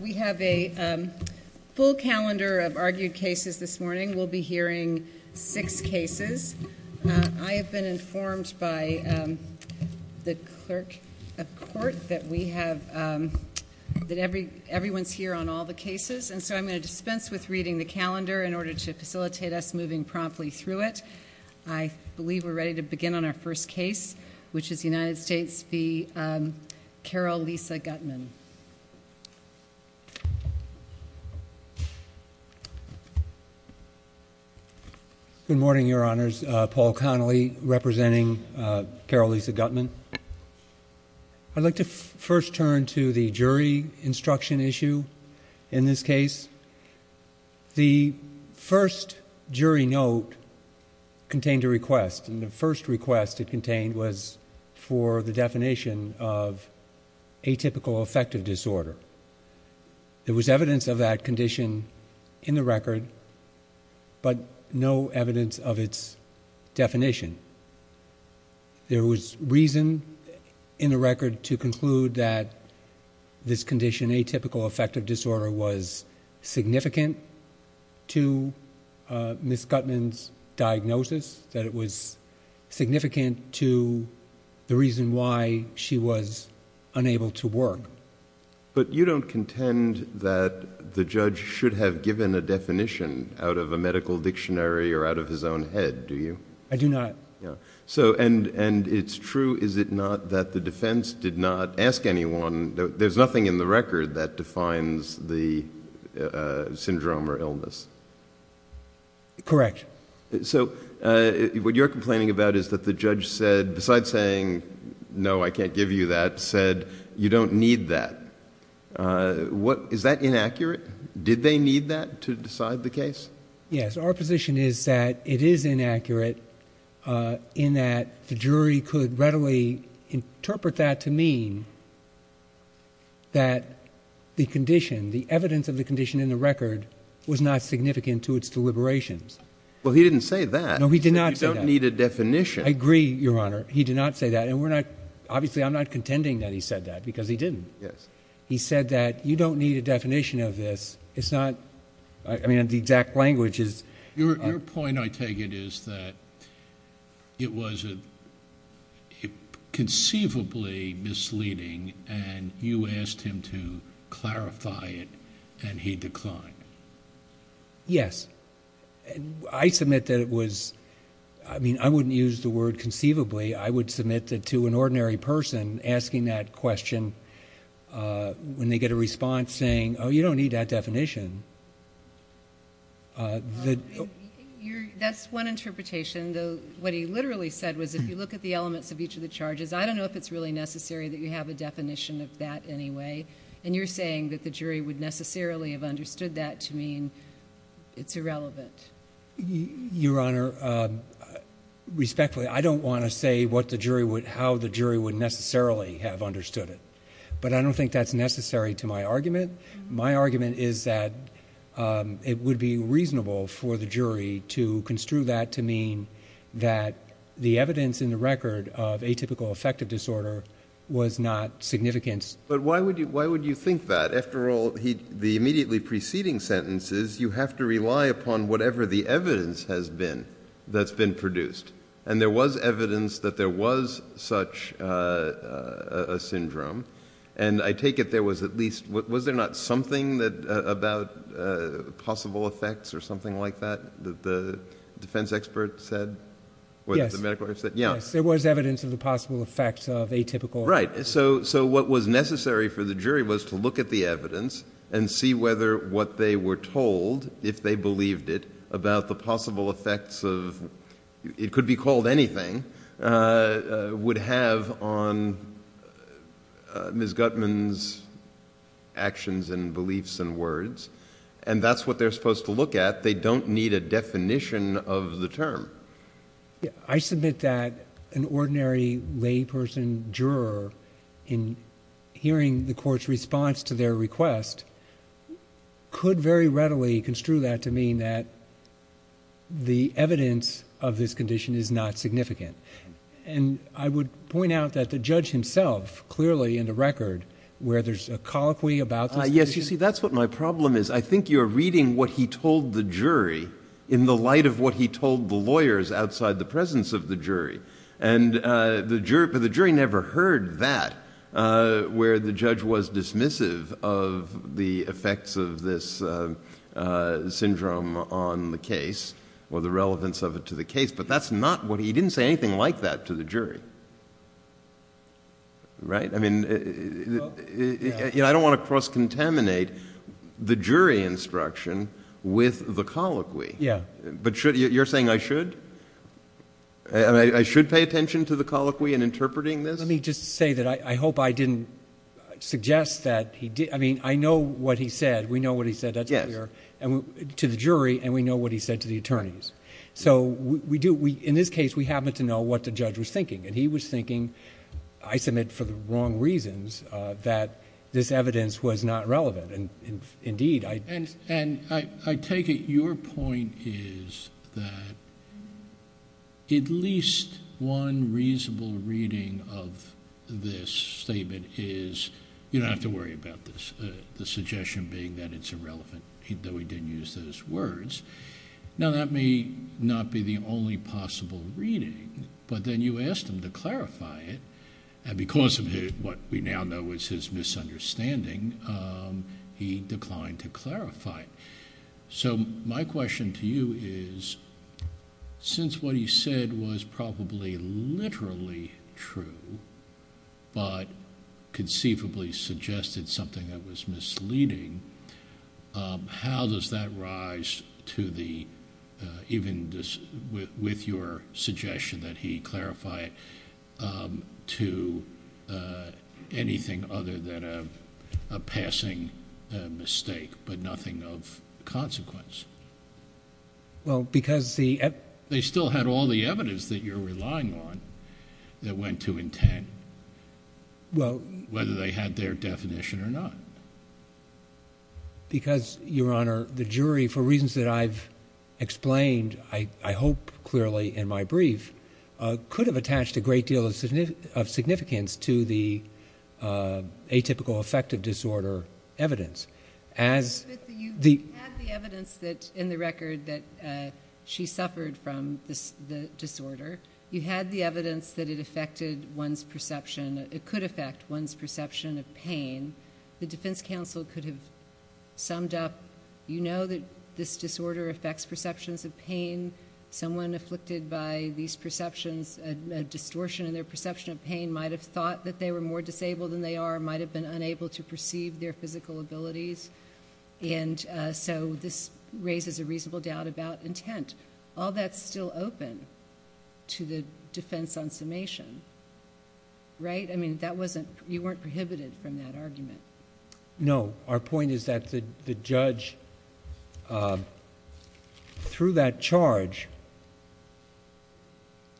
We have a full calendar of argued cases this morning. We'll be hearing six cases. I have been informed by the clerk of court that we have, that everyone's here on all the cases, and so I'm going to dispense with reading the calendar in order to facilitate us moving promptly through it. I believe we're ready to begin on our first case, which is United States v. Carol Lisa Gutman. Good morning, Your Honors. Paul Connolly, representing Carol Lisa Gutman. I'd like to first turn to the jury instruction issue in this case. The first jury note contained a request, and the first request it contained was for the definition of atypical affective disorder. There was evidence of that condition in the record, but no evidence of its definition. There was reason in the record to conclude that this condition, atypical affective disorder, was significant to Ms. Gutman's diagnosis, that it was significant to the reason why she was unable to work. But you don't contend that the judge should have given a definition out of a medical dictionary or out of his own head, do you? I do not. It's true, is it not, that the defense did not ask anyone... there's nothing in the record that defines the syndrome or illness? Correct. What you're complaining about is that the judge said, besides saying, no, I can't give you that, said, you don't need that. Is that inaccurate? Did they need that to decide the case? Yes. Our position is that it is inaccurate in that the jury could readily interpret that to mean that the condition, the evidence of the condition in the record, was not significant to its deliberations. Well, he didn't say that. No, he did not say that. He said, you don't need a definition. I agree, Your Honor. He did not say that. And we're not... obviously, I'm not contending that he said that, because he didn't. Yes. He said that, you don't need a definition of this. It's not... I mean, the exact language is... Your point, I take it, is that it was conceivably misleading, and you asked him to clarify it, and he declined. Yes. I submit that it was... I mean, I wouldn't use the word conceivably. I would submit that to an ordinary person, asking that question, when they get a response saying, oh, you don't need that definition. That's one interpretation. What he literally said was, if you look at the elements of each of the charges, I don't know if it's really necessary that you have a definition of that anyway. And you're saying that the jury would necessarily have understood that to mean it's irrelevant. Your Honor, respectfully, I don't want to say what the jury would... how the jury would necessarily have understood it, but I don't think that's necessary to my argument. My argument is that it would be reasonable for the jury to construe that to mean that the evidence in the record of atypical affective disorder was not significant. But why would you think that? After all, the immediately preceding sentence is, you have to rely upon whatever the evidence has been that's been produced. And there was evidence that there was such a syndrome, and I take it there was at least... was there not something about possible effects or something like that, that the defense expert said? Yes. Yes, there was evidence of the possible effects of atypical... Right. So what was necessary for the jury was to look at the evidence and see whether what they were told, if they believed it, about the possible effects of... it could be called anything... would have on Ms. Gutman's actions and beliefs and words. And that's what they're supposed to look at. They don't need a definition of the term. I submit that an ordinary layperson juror, in hearing the court's response to their request, could very readily construe that to mean that the evidence of this condition is not significant. And I would point out that the judge himself, clearly in the record, where there's a colloquy about this... outside the presence of the jury. And the jury never heard that, where the judge was dismissive of the effects of this syndrome on the case, or the relevance of it to the case. But that's not what he... he didn't say anything like that to the jury. Right? I mean, I don't want to cross-contaminate the jury instruction with the colloquy. Yeah. But should... you're saying I should? I should pay attention to the colloquy in interpreting this? Let me just say that I hope I didn't suggest that he... I mean, I know what he said. We know what he said, that's clear. Yes. To the jury, and we know what he said to the attorneys. So, we do... in this case, we happen to know what the judge was thinking. And he was thinking, I submit, for the wrong reasons, that this evidence was not relevant. Indeed, I... And I take it your point is that at least one reasonable reading of this statement is, you don't have to worry about this, the suggestion being that it's irrelevant, even though he didn't use those words. Now, that may not be the only possible reading, but then you asked him to clarify it, and because of what we now know is his misunderstanding, he declined to clarify it. So, my question to you is, since what he said was probably literally true, but conceivably suggested something that was misleading, how does that rise to the... even with your suggestion that he clarify it, to anything other than a passing mistake, but nothing of consequence? Well, because the... They still had all the evidence that you're relying on that went to intent, whether they had their definition or not. Because, Your Honor, the jury, for reasons that I've explained, I hope clearly in my brief, could have attached a great deal of significance to the atypical affective disorder evidence. You had the evidence that, in the record, that she suffered from the disorder. You had the evidence that it affected one's perception. It could affect one's perception of pain. The defense counsel could have summed up, you know that this disorder affects perceptions of pain. Someone afflicted by these perceptions, a distortion in their perception of pain, might have thought that they were more disabled than they are, might have been unable to perceive their physical abilities, and so this raises a reasonable doubt about intent. All that's still open to the defense on summation, right? I mean, that wasn't... you weren't prohibited from that argument. No. Our point is that the judge, through that charge,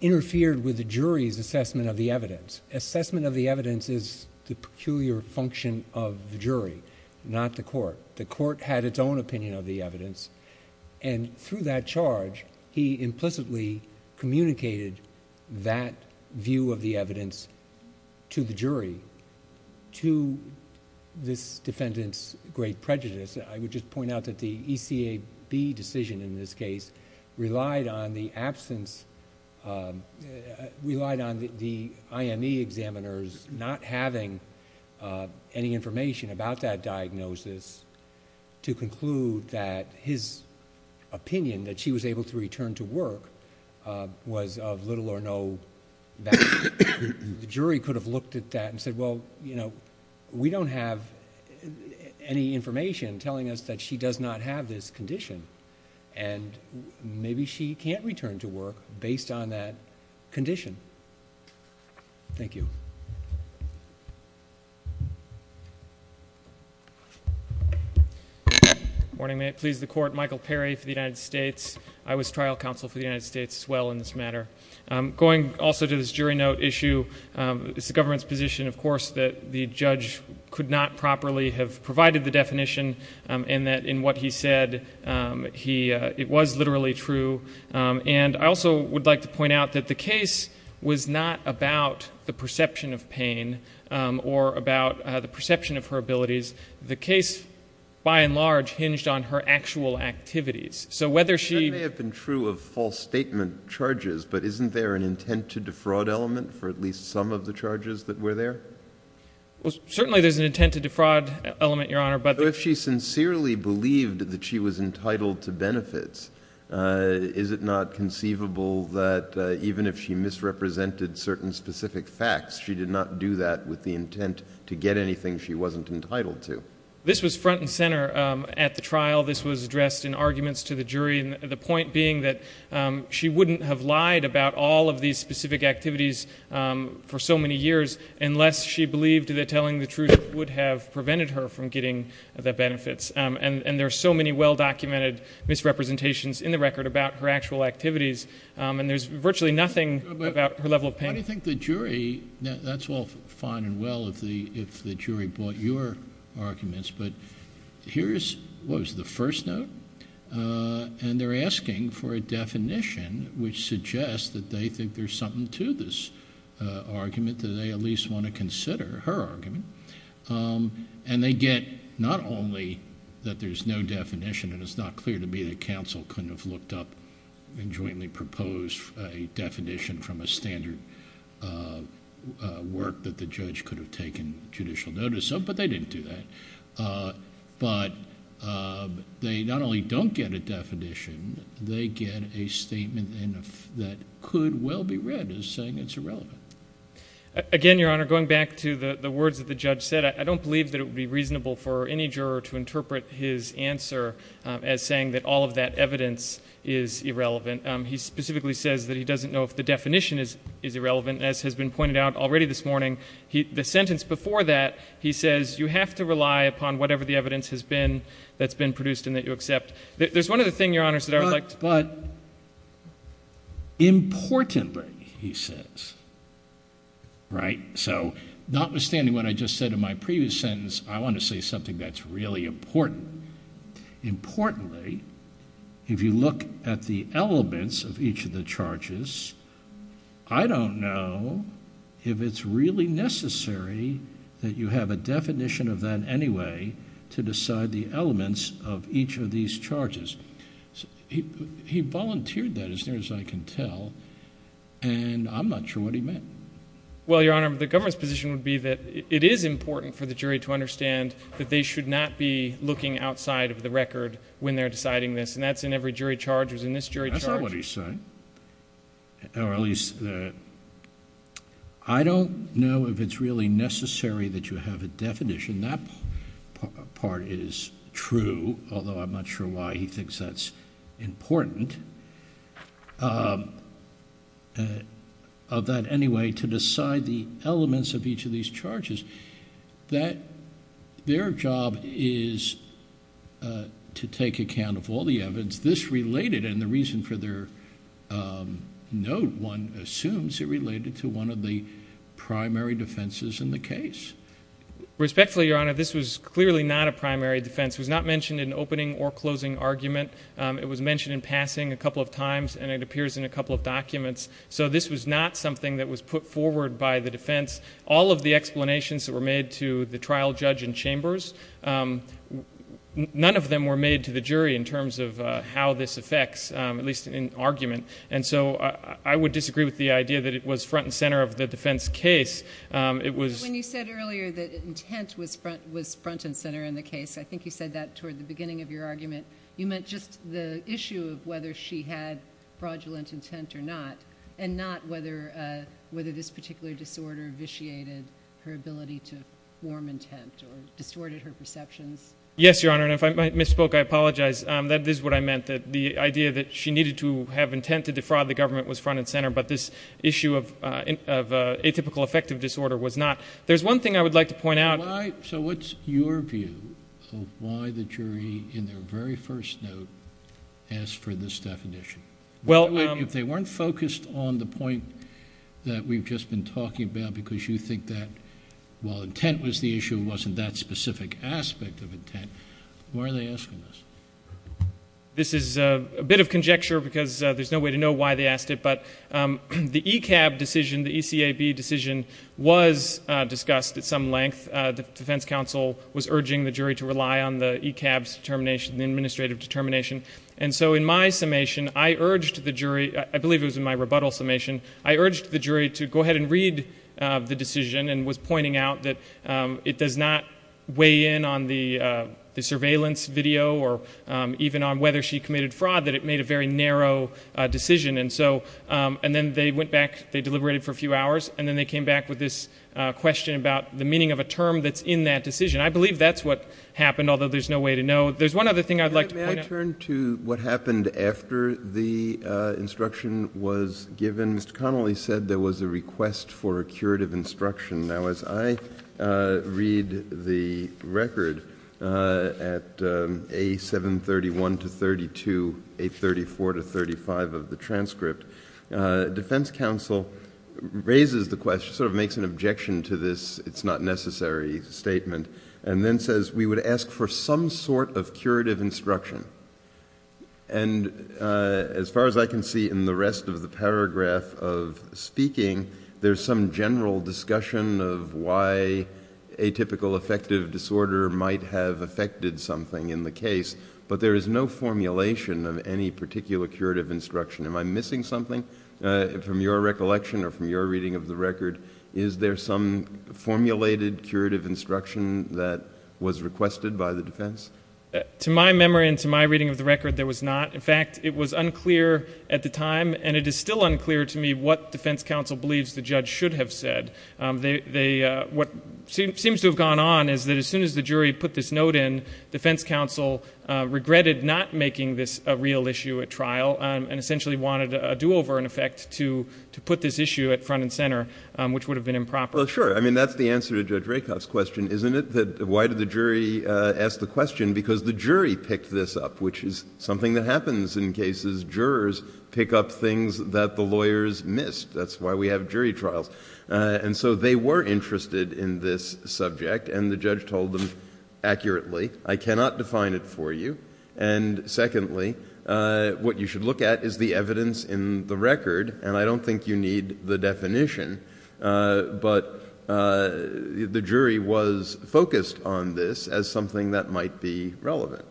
interfered with the jury's assessment of the evidence. Assessment of the evidence is the peculiar function of the jury, not the court. The court had its own opinion of the evidence, and through that charge, he implicitly communicated that view of the evidence to the jury, to this defendant's great prejudice. I would just point out that the ECAB decision, in this case, relied on the absence... relied on the IME examiners not having any information about that diagnosis, to conclude that his opinion that she was able to return to work was of little or no value. The jury could have looked at that and said, well, you know, we don't have any information telling us that she does not have this condition, and maybe she can't return to work based on that condition. Thank you. Good morning. May it please the Court. Michael Perry for the United States. I was trial counsel for the United States as well in this matter. Going also to this jury note issue, it's the government's position, of course, that the judge could not properly have provided the definition, and that in what he said, it was literally true. And, I also would like to point out that the case was not about the perception of pain or about the perception of her abilities. The case, by and large, hinged on her actual activities. So, whether she... But isn't there an intent to defraud element for at least some of the charges that were there? Well, certainly there's an intent to defraud element, Your Honor, but... So, if she sincerely believed that she was entitled to benefits, is it not conceivable that even if she misrepresented certain specific facts, she did not do that with the intent to get anything she wasn't entitled to? This was front and center at the trial. This was addressed in arguments to the jury, and the point being that she wouldn't have lied about all of these specific activities for so many years, unless she believed that telling the truth would have prevented her from getting the benefits. And, there are so many well-documented misrepresentations in the record about her actual activities, and there's virtually nothing about her level of pain. Why do you think the jury... Now, that's all fine and well if the jury bought your arguments, but here is... What was the first note? And, they're asking for a definition which suggests that they think there's something to this argument, that they at least want to consider her argument. And, they get not only that there's no definition, and it's not clear to me that counsel couldn't have looked up and jointly proposed a definition from a standard work that the judge could have taken judicial notice of, but they didn't do that. But, they not only don't get a definition, they get a statement that could well be read as saying it's irrelevant. Again, Your Honor, going back to the words that the judge said, I don't believe that it would be reasonable for any juror to interpret his answer as saying that all of that evidence is irrelevant. He specifically says that he doesn't know if the definition is irrelevant. As has been pointed out already this morning, the sentence before that, he says, you have to rely upon whatever the evidence has been that's been produced and that you accept. There's one other thing, Your Honor, that I would like to... I want to say something that's really important. Importantly, if you look at the elements of each of the charges, I don't know if it's really necessary that you have a definition of that anyway to decide the elements of each of these charges. He volunteered that as near as I can tell, and I'm not sure what he meant. Well, Your Honor, the government's position would be that it is important for the jury to understand that they should not be looking outside of the record when they're deciding this, and that's in every jury charge. It was in this jury charge... That's not what he's saying, or at least... I don't know if it's really necessary that you have a definition. That part is true, although I'm not sure why he thinks that's important.... of that anyway, to decide the elements of each of these charges, that their job is to take account of all the evidence. This related, and the reason for their note, one assumes, it related to one of the primary defenses in the case. Respectfully, Your Honor, this was clearly not a primary defense. It was not mentioned in opening or closing argument. It was mentioned in passing a couple of times, and it appears in a couple of documents. So this was not something that was put forward by the defense. All of the explanations that were made to the trial judge and chambers, none of them were made to the jury in terms of how this affects, at least in argument. And so I would disagree with the idea that it was front and center of the defense case. It was... When you said earlier that intent was front and center in the case, I think you said that toward the beginning of your argument. You meant just the issue of whether she had fraudulent intent or not, and not whether this particular disorder vitiated her ability to form intent or distorted her perceptions. Yes, Your Honor, and if I misspoke, I apologize. That is what I meant, that the idea that she needed to have intent to defraud the government was front and center, but this issue of atypical affective disorder was not. There's one thing I would like to point out. So what's your view of why the jury, in their very first note, asked for this definition? If they weren't focused on the point that we've just been talking about, because you think that while intent was the issue, it wasn't that specific aspect of intent, why are they asking this? This is a bit of conjecture because there's no way to know why they asked it, but the ECAB decision was discussed at some length. The defense counsel was urging the jury to rely on the ECAB's determination, the administrative determination, and so in my summation, I urged the jury, I believe it was in my rebuttal summation, I urged the jury to go ahead and read the decision and was pointing out that it does not weigh in on the surveillance video or even on whether she committed fraud, that it made a very narrow decision. And then they went back, they deliberated for a few hours, and then they came back with this question about the meaning of a term that's in that decision. I believe that's what happened, although there's no way to know. There's one other thing I'd like to point out. May I turn to what happened after the instruction was given? Mr. Connolly said there was a request for a curative instruction. Now as I read the record at A731-32, A34-35 of the transcript, defense counsel raises the question, sort of makes an objection to this, it's not necessary statement, and then says, we would ask for some sort of curative instruction. And as far as I can see in the rest of the paragraph of speaking, there's some general discussion of why atypical affective disorder might have affected something in the case, but there is no formulation of any particular curative instruction. Am I missing something from your recollection or from your reading of the record? Is there some formulated curative instruction that was requested by the defense? To my memory and to my reading of the record, there was not. In fact, it was unclear at the time, and it is still unclear to me what defense counsel believes the judge should have said. What seems to have gone on is that as soon as the jury put this note in, defense counsel regretted not making this a real issue at trial and essentially wanted a do-over in effect to put this issue at front and center, which would have been improper. Well, sure. I mean, that's the answer to Judge Rakoff's question, isn't it? Why did the jury ask the question? Because the jury picked this up, which is something that happens in cases. Jurors pick up things that the lawyers missed. That's why we have jury trials. And so they were interested in this subject, and the judge told them accurately, I cannot define it for you. And secondly, what you should look at is the evidence in the record, and I don't think you need the definition. But the jury was focused on this as something that might be relevant.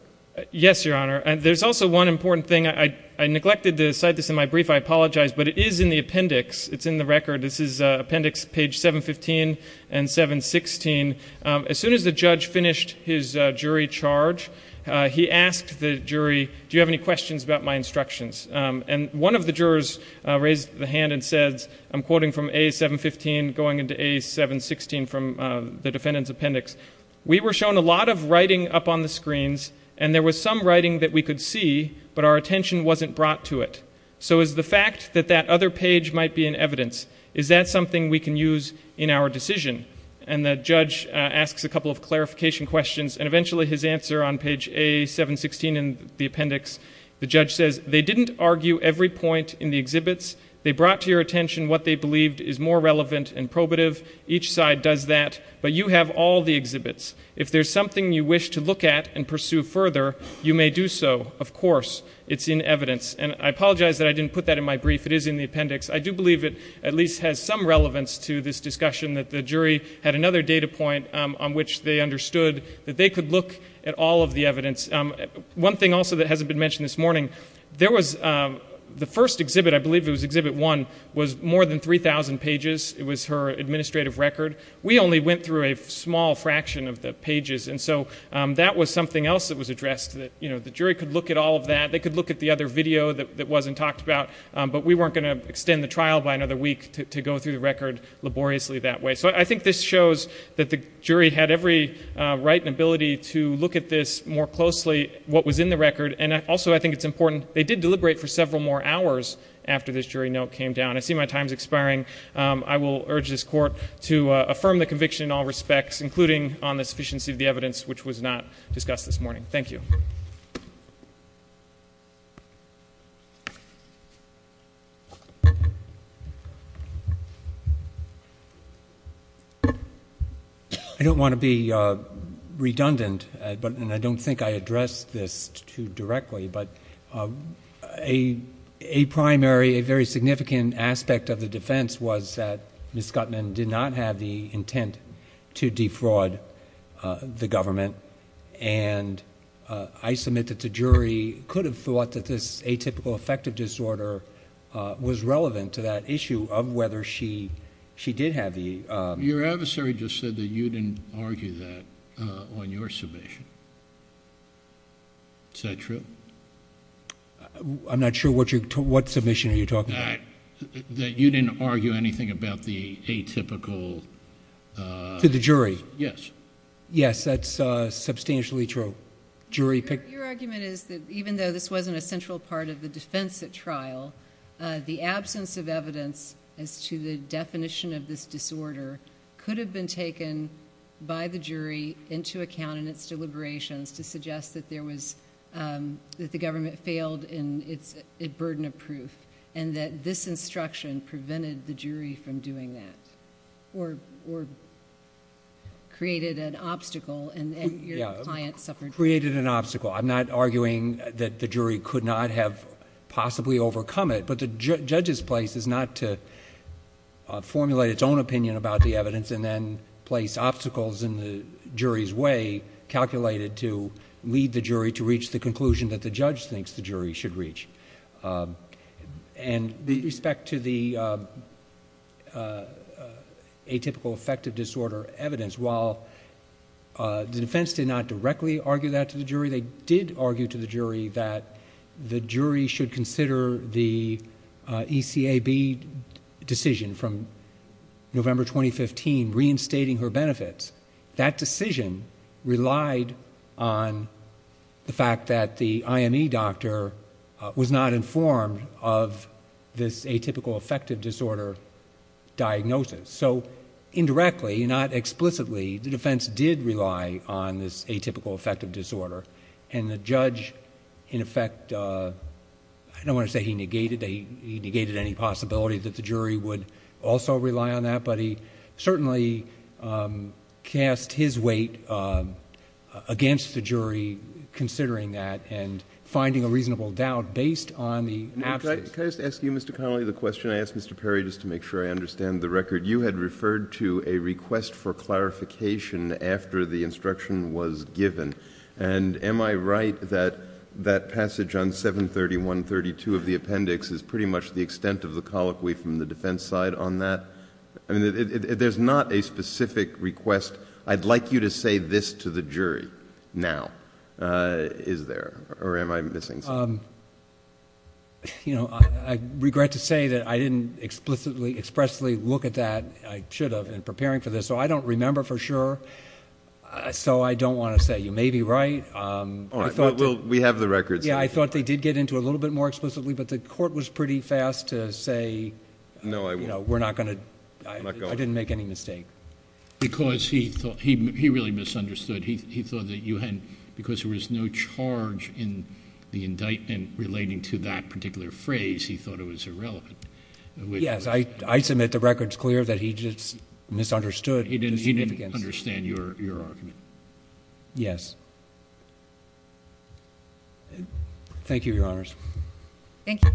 Yes, Your Honor. There's also one important thing. I neglected to cite this in my brief. I apologize. But it is in the appendix. It's in the record. This is appendix page 715 and 716. As soon as the judge finished his jury charge, he asked the jury, do you have any questions about my instructions? And one of the jurors raised the hand and said, I'm quoting from A715 going into A716 from the defendant's appendix, we were shown a lot of writing up on the screens, and there was some writing that we could see, but our attention wasn't brought to it. So is the fact that that other page might be in evidence, is that something we can use in our decision? And the judge asks a couple of clarification questions, and eventually his answer on page A716 in the appendix, the judge says, they didn't argue every point in the exhibits. They brought to your attention what they believed is more relevant and probative. Each side does that, but you have all the exhibits. If there's something you wish to look at and pursue further, you may do so. Of course, it's in evidence. And I apologize that I didn't put that in my brief. It is in the appendix. I do believe it at least has some relevance to this discussion that the jury had another data point on which they understood that they could look at all of the evidence. One thing also that hasn't been mentioned this morning, there was the first exhibit, I believe it was exhibit one, was more than 3,000 pages. It was her administrative record. We only went through a small fraction of the pages, and so that was something else that was addressed, that the jury could look at all of that. They could look at the other video that wasn't talked about, but we weren't going to extend the trial by another week to go through the record laboriously that way. So I think this shows that the jury had every right and ability to look at this more closely, what was in the record. And also I think it's important, they did deliberate for several more hours after this jury note came down. I see my time is expiring. I will urge this court to affirm the conviction in all respects, including on the sufficiency of the evidence, which was not discussed this morning. Thank you. I don't want to be redundant, and I don't think I addressed this too directly, but a primary, a very significant aspect of the defense was that Ms. Gutman did not have the intent to defraud the government, and I submit that the jury could have thought that this atypical affective disorder was relevant to that issue of whether she did have the... Your adversary just said that you didn't argue that on your submission. Is that true? I'm not sure what submission are you talking about? That you didn't argue anything about the atypical... To the jury? Yes. Yes, that's substantially true. Your argument is that even though this wasn't a central part of the defense at trial, the absence of evidence as to the definition of this disorder could have been taken by the jury into account in its deliberations to suggest that the government failed in its burden of proof and that this instruction prevented the jury from doing that or created an obstacle and your client suffered... Created an obstacle. I'm not arguing that the jury could not have possibly overcome it, but the judge's place is not to formulate its own opinion about the evidence and then place obstacles in the jury's way calculated to lead the jury to reach the conclusion that the judge thinks the jury should reach. In respect to the atypical affective disorder evidence, while the defense did not directly argue that to the jury, they did argue to the jury that the jury should consider the ECAB decision from November 2015 reinstating her benefits, that decision relied on the fact that the IME doctor was not informed of this atypical affective disorder diagnosis. Indirectly, not explicitly, the defense did rely on this atypical affective disorder and the judge, in effect, I don't want to say he negated any possibility that the jury would also rely on that, but he certainly cast his weight against the jury considering that and finding a reasonable doubt based on the absence... Can I just ask you, Mr. Connolly, the question? I asked Mr. Perry just to make sure I understand the record. You had referred to a request for clarification after the instruction was given, and am I right that that passage on 730.132 of the appendix is pretty much the extent of the colloquy from the defense side on that? There's not a specific request. I'd like you to say this to the jury now. Is there, or am I missing something? I regret to say that I didn't explicitly look at that. I should have in preparing for this, so I don't remember for sure, so I don't want to say. You may be right. We have the records. I thought they did get into it a little bit more explicitly, but the court was pretty fast to say, you know, we're not going to... I didn't make any mistake. Because he really misunderstood. He thought that because there was no charge in the indictment relating to that particular phrase, he thought it was irrelevant. Yes. I submit the record's clear that he just misunderstood the significance. He didn't understand your argument. Yes. Thank you, Your Honors. Thank you.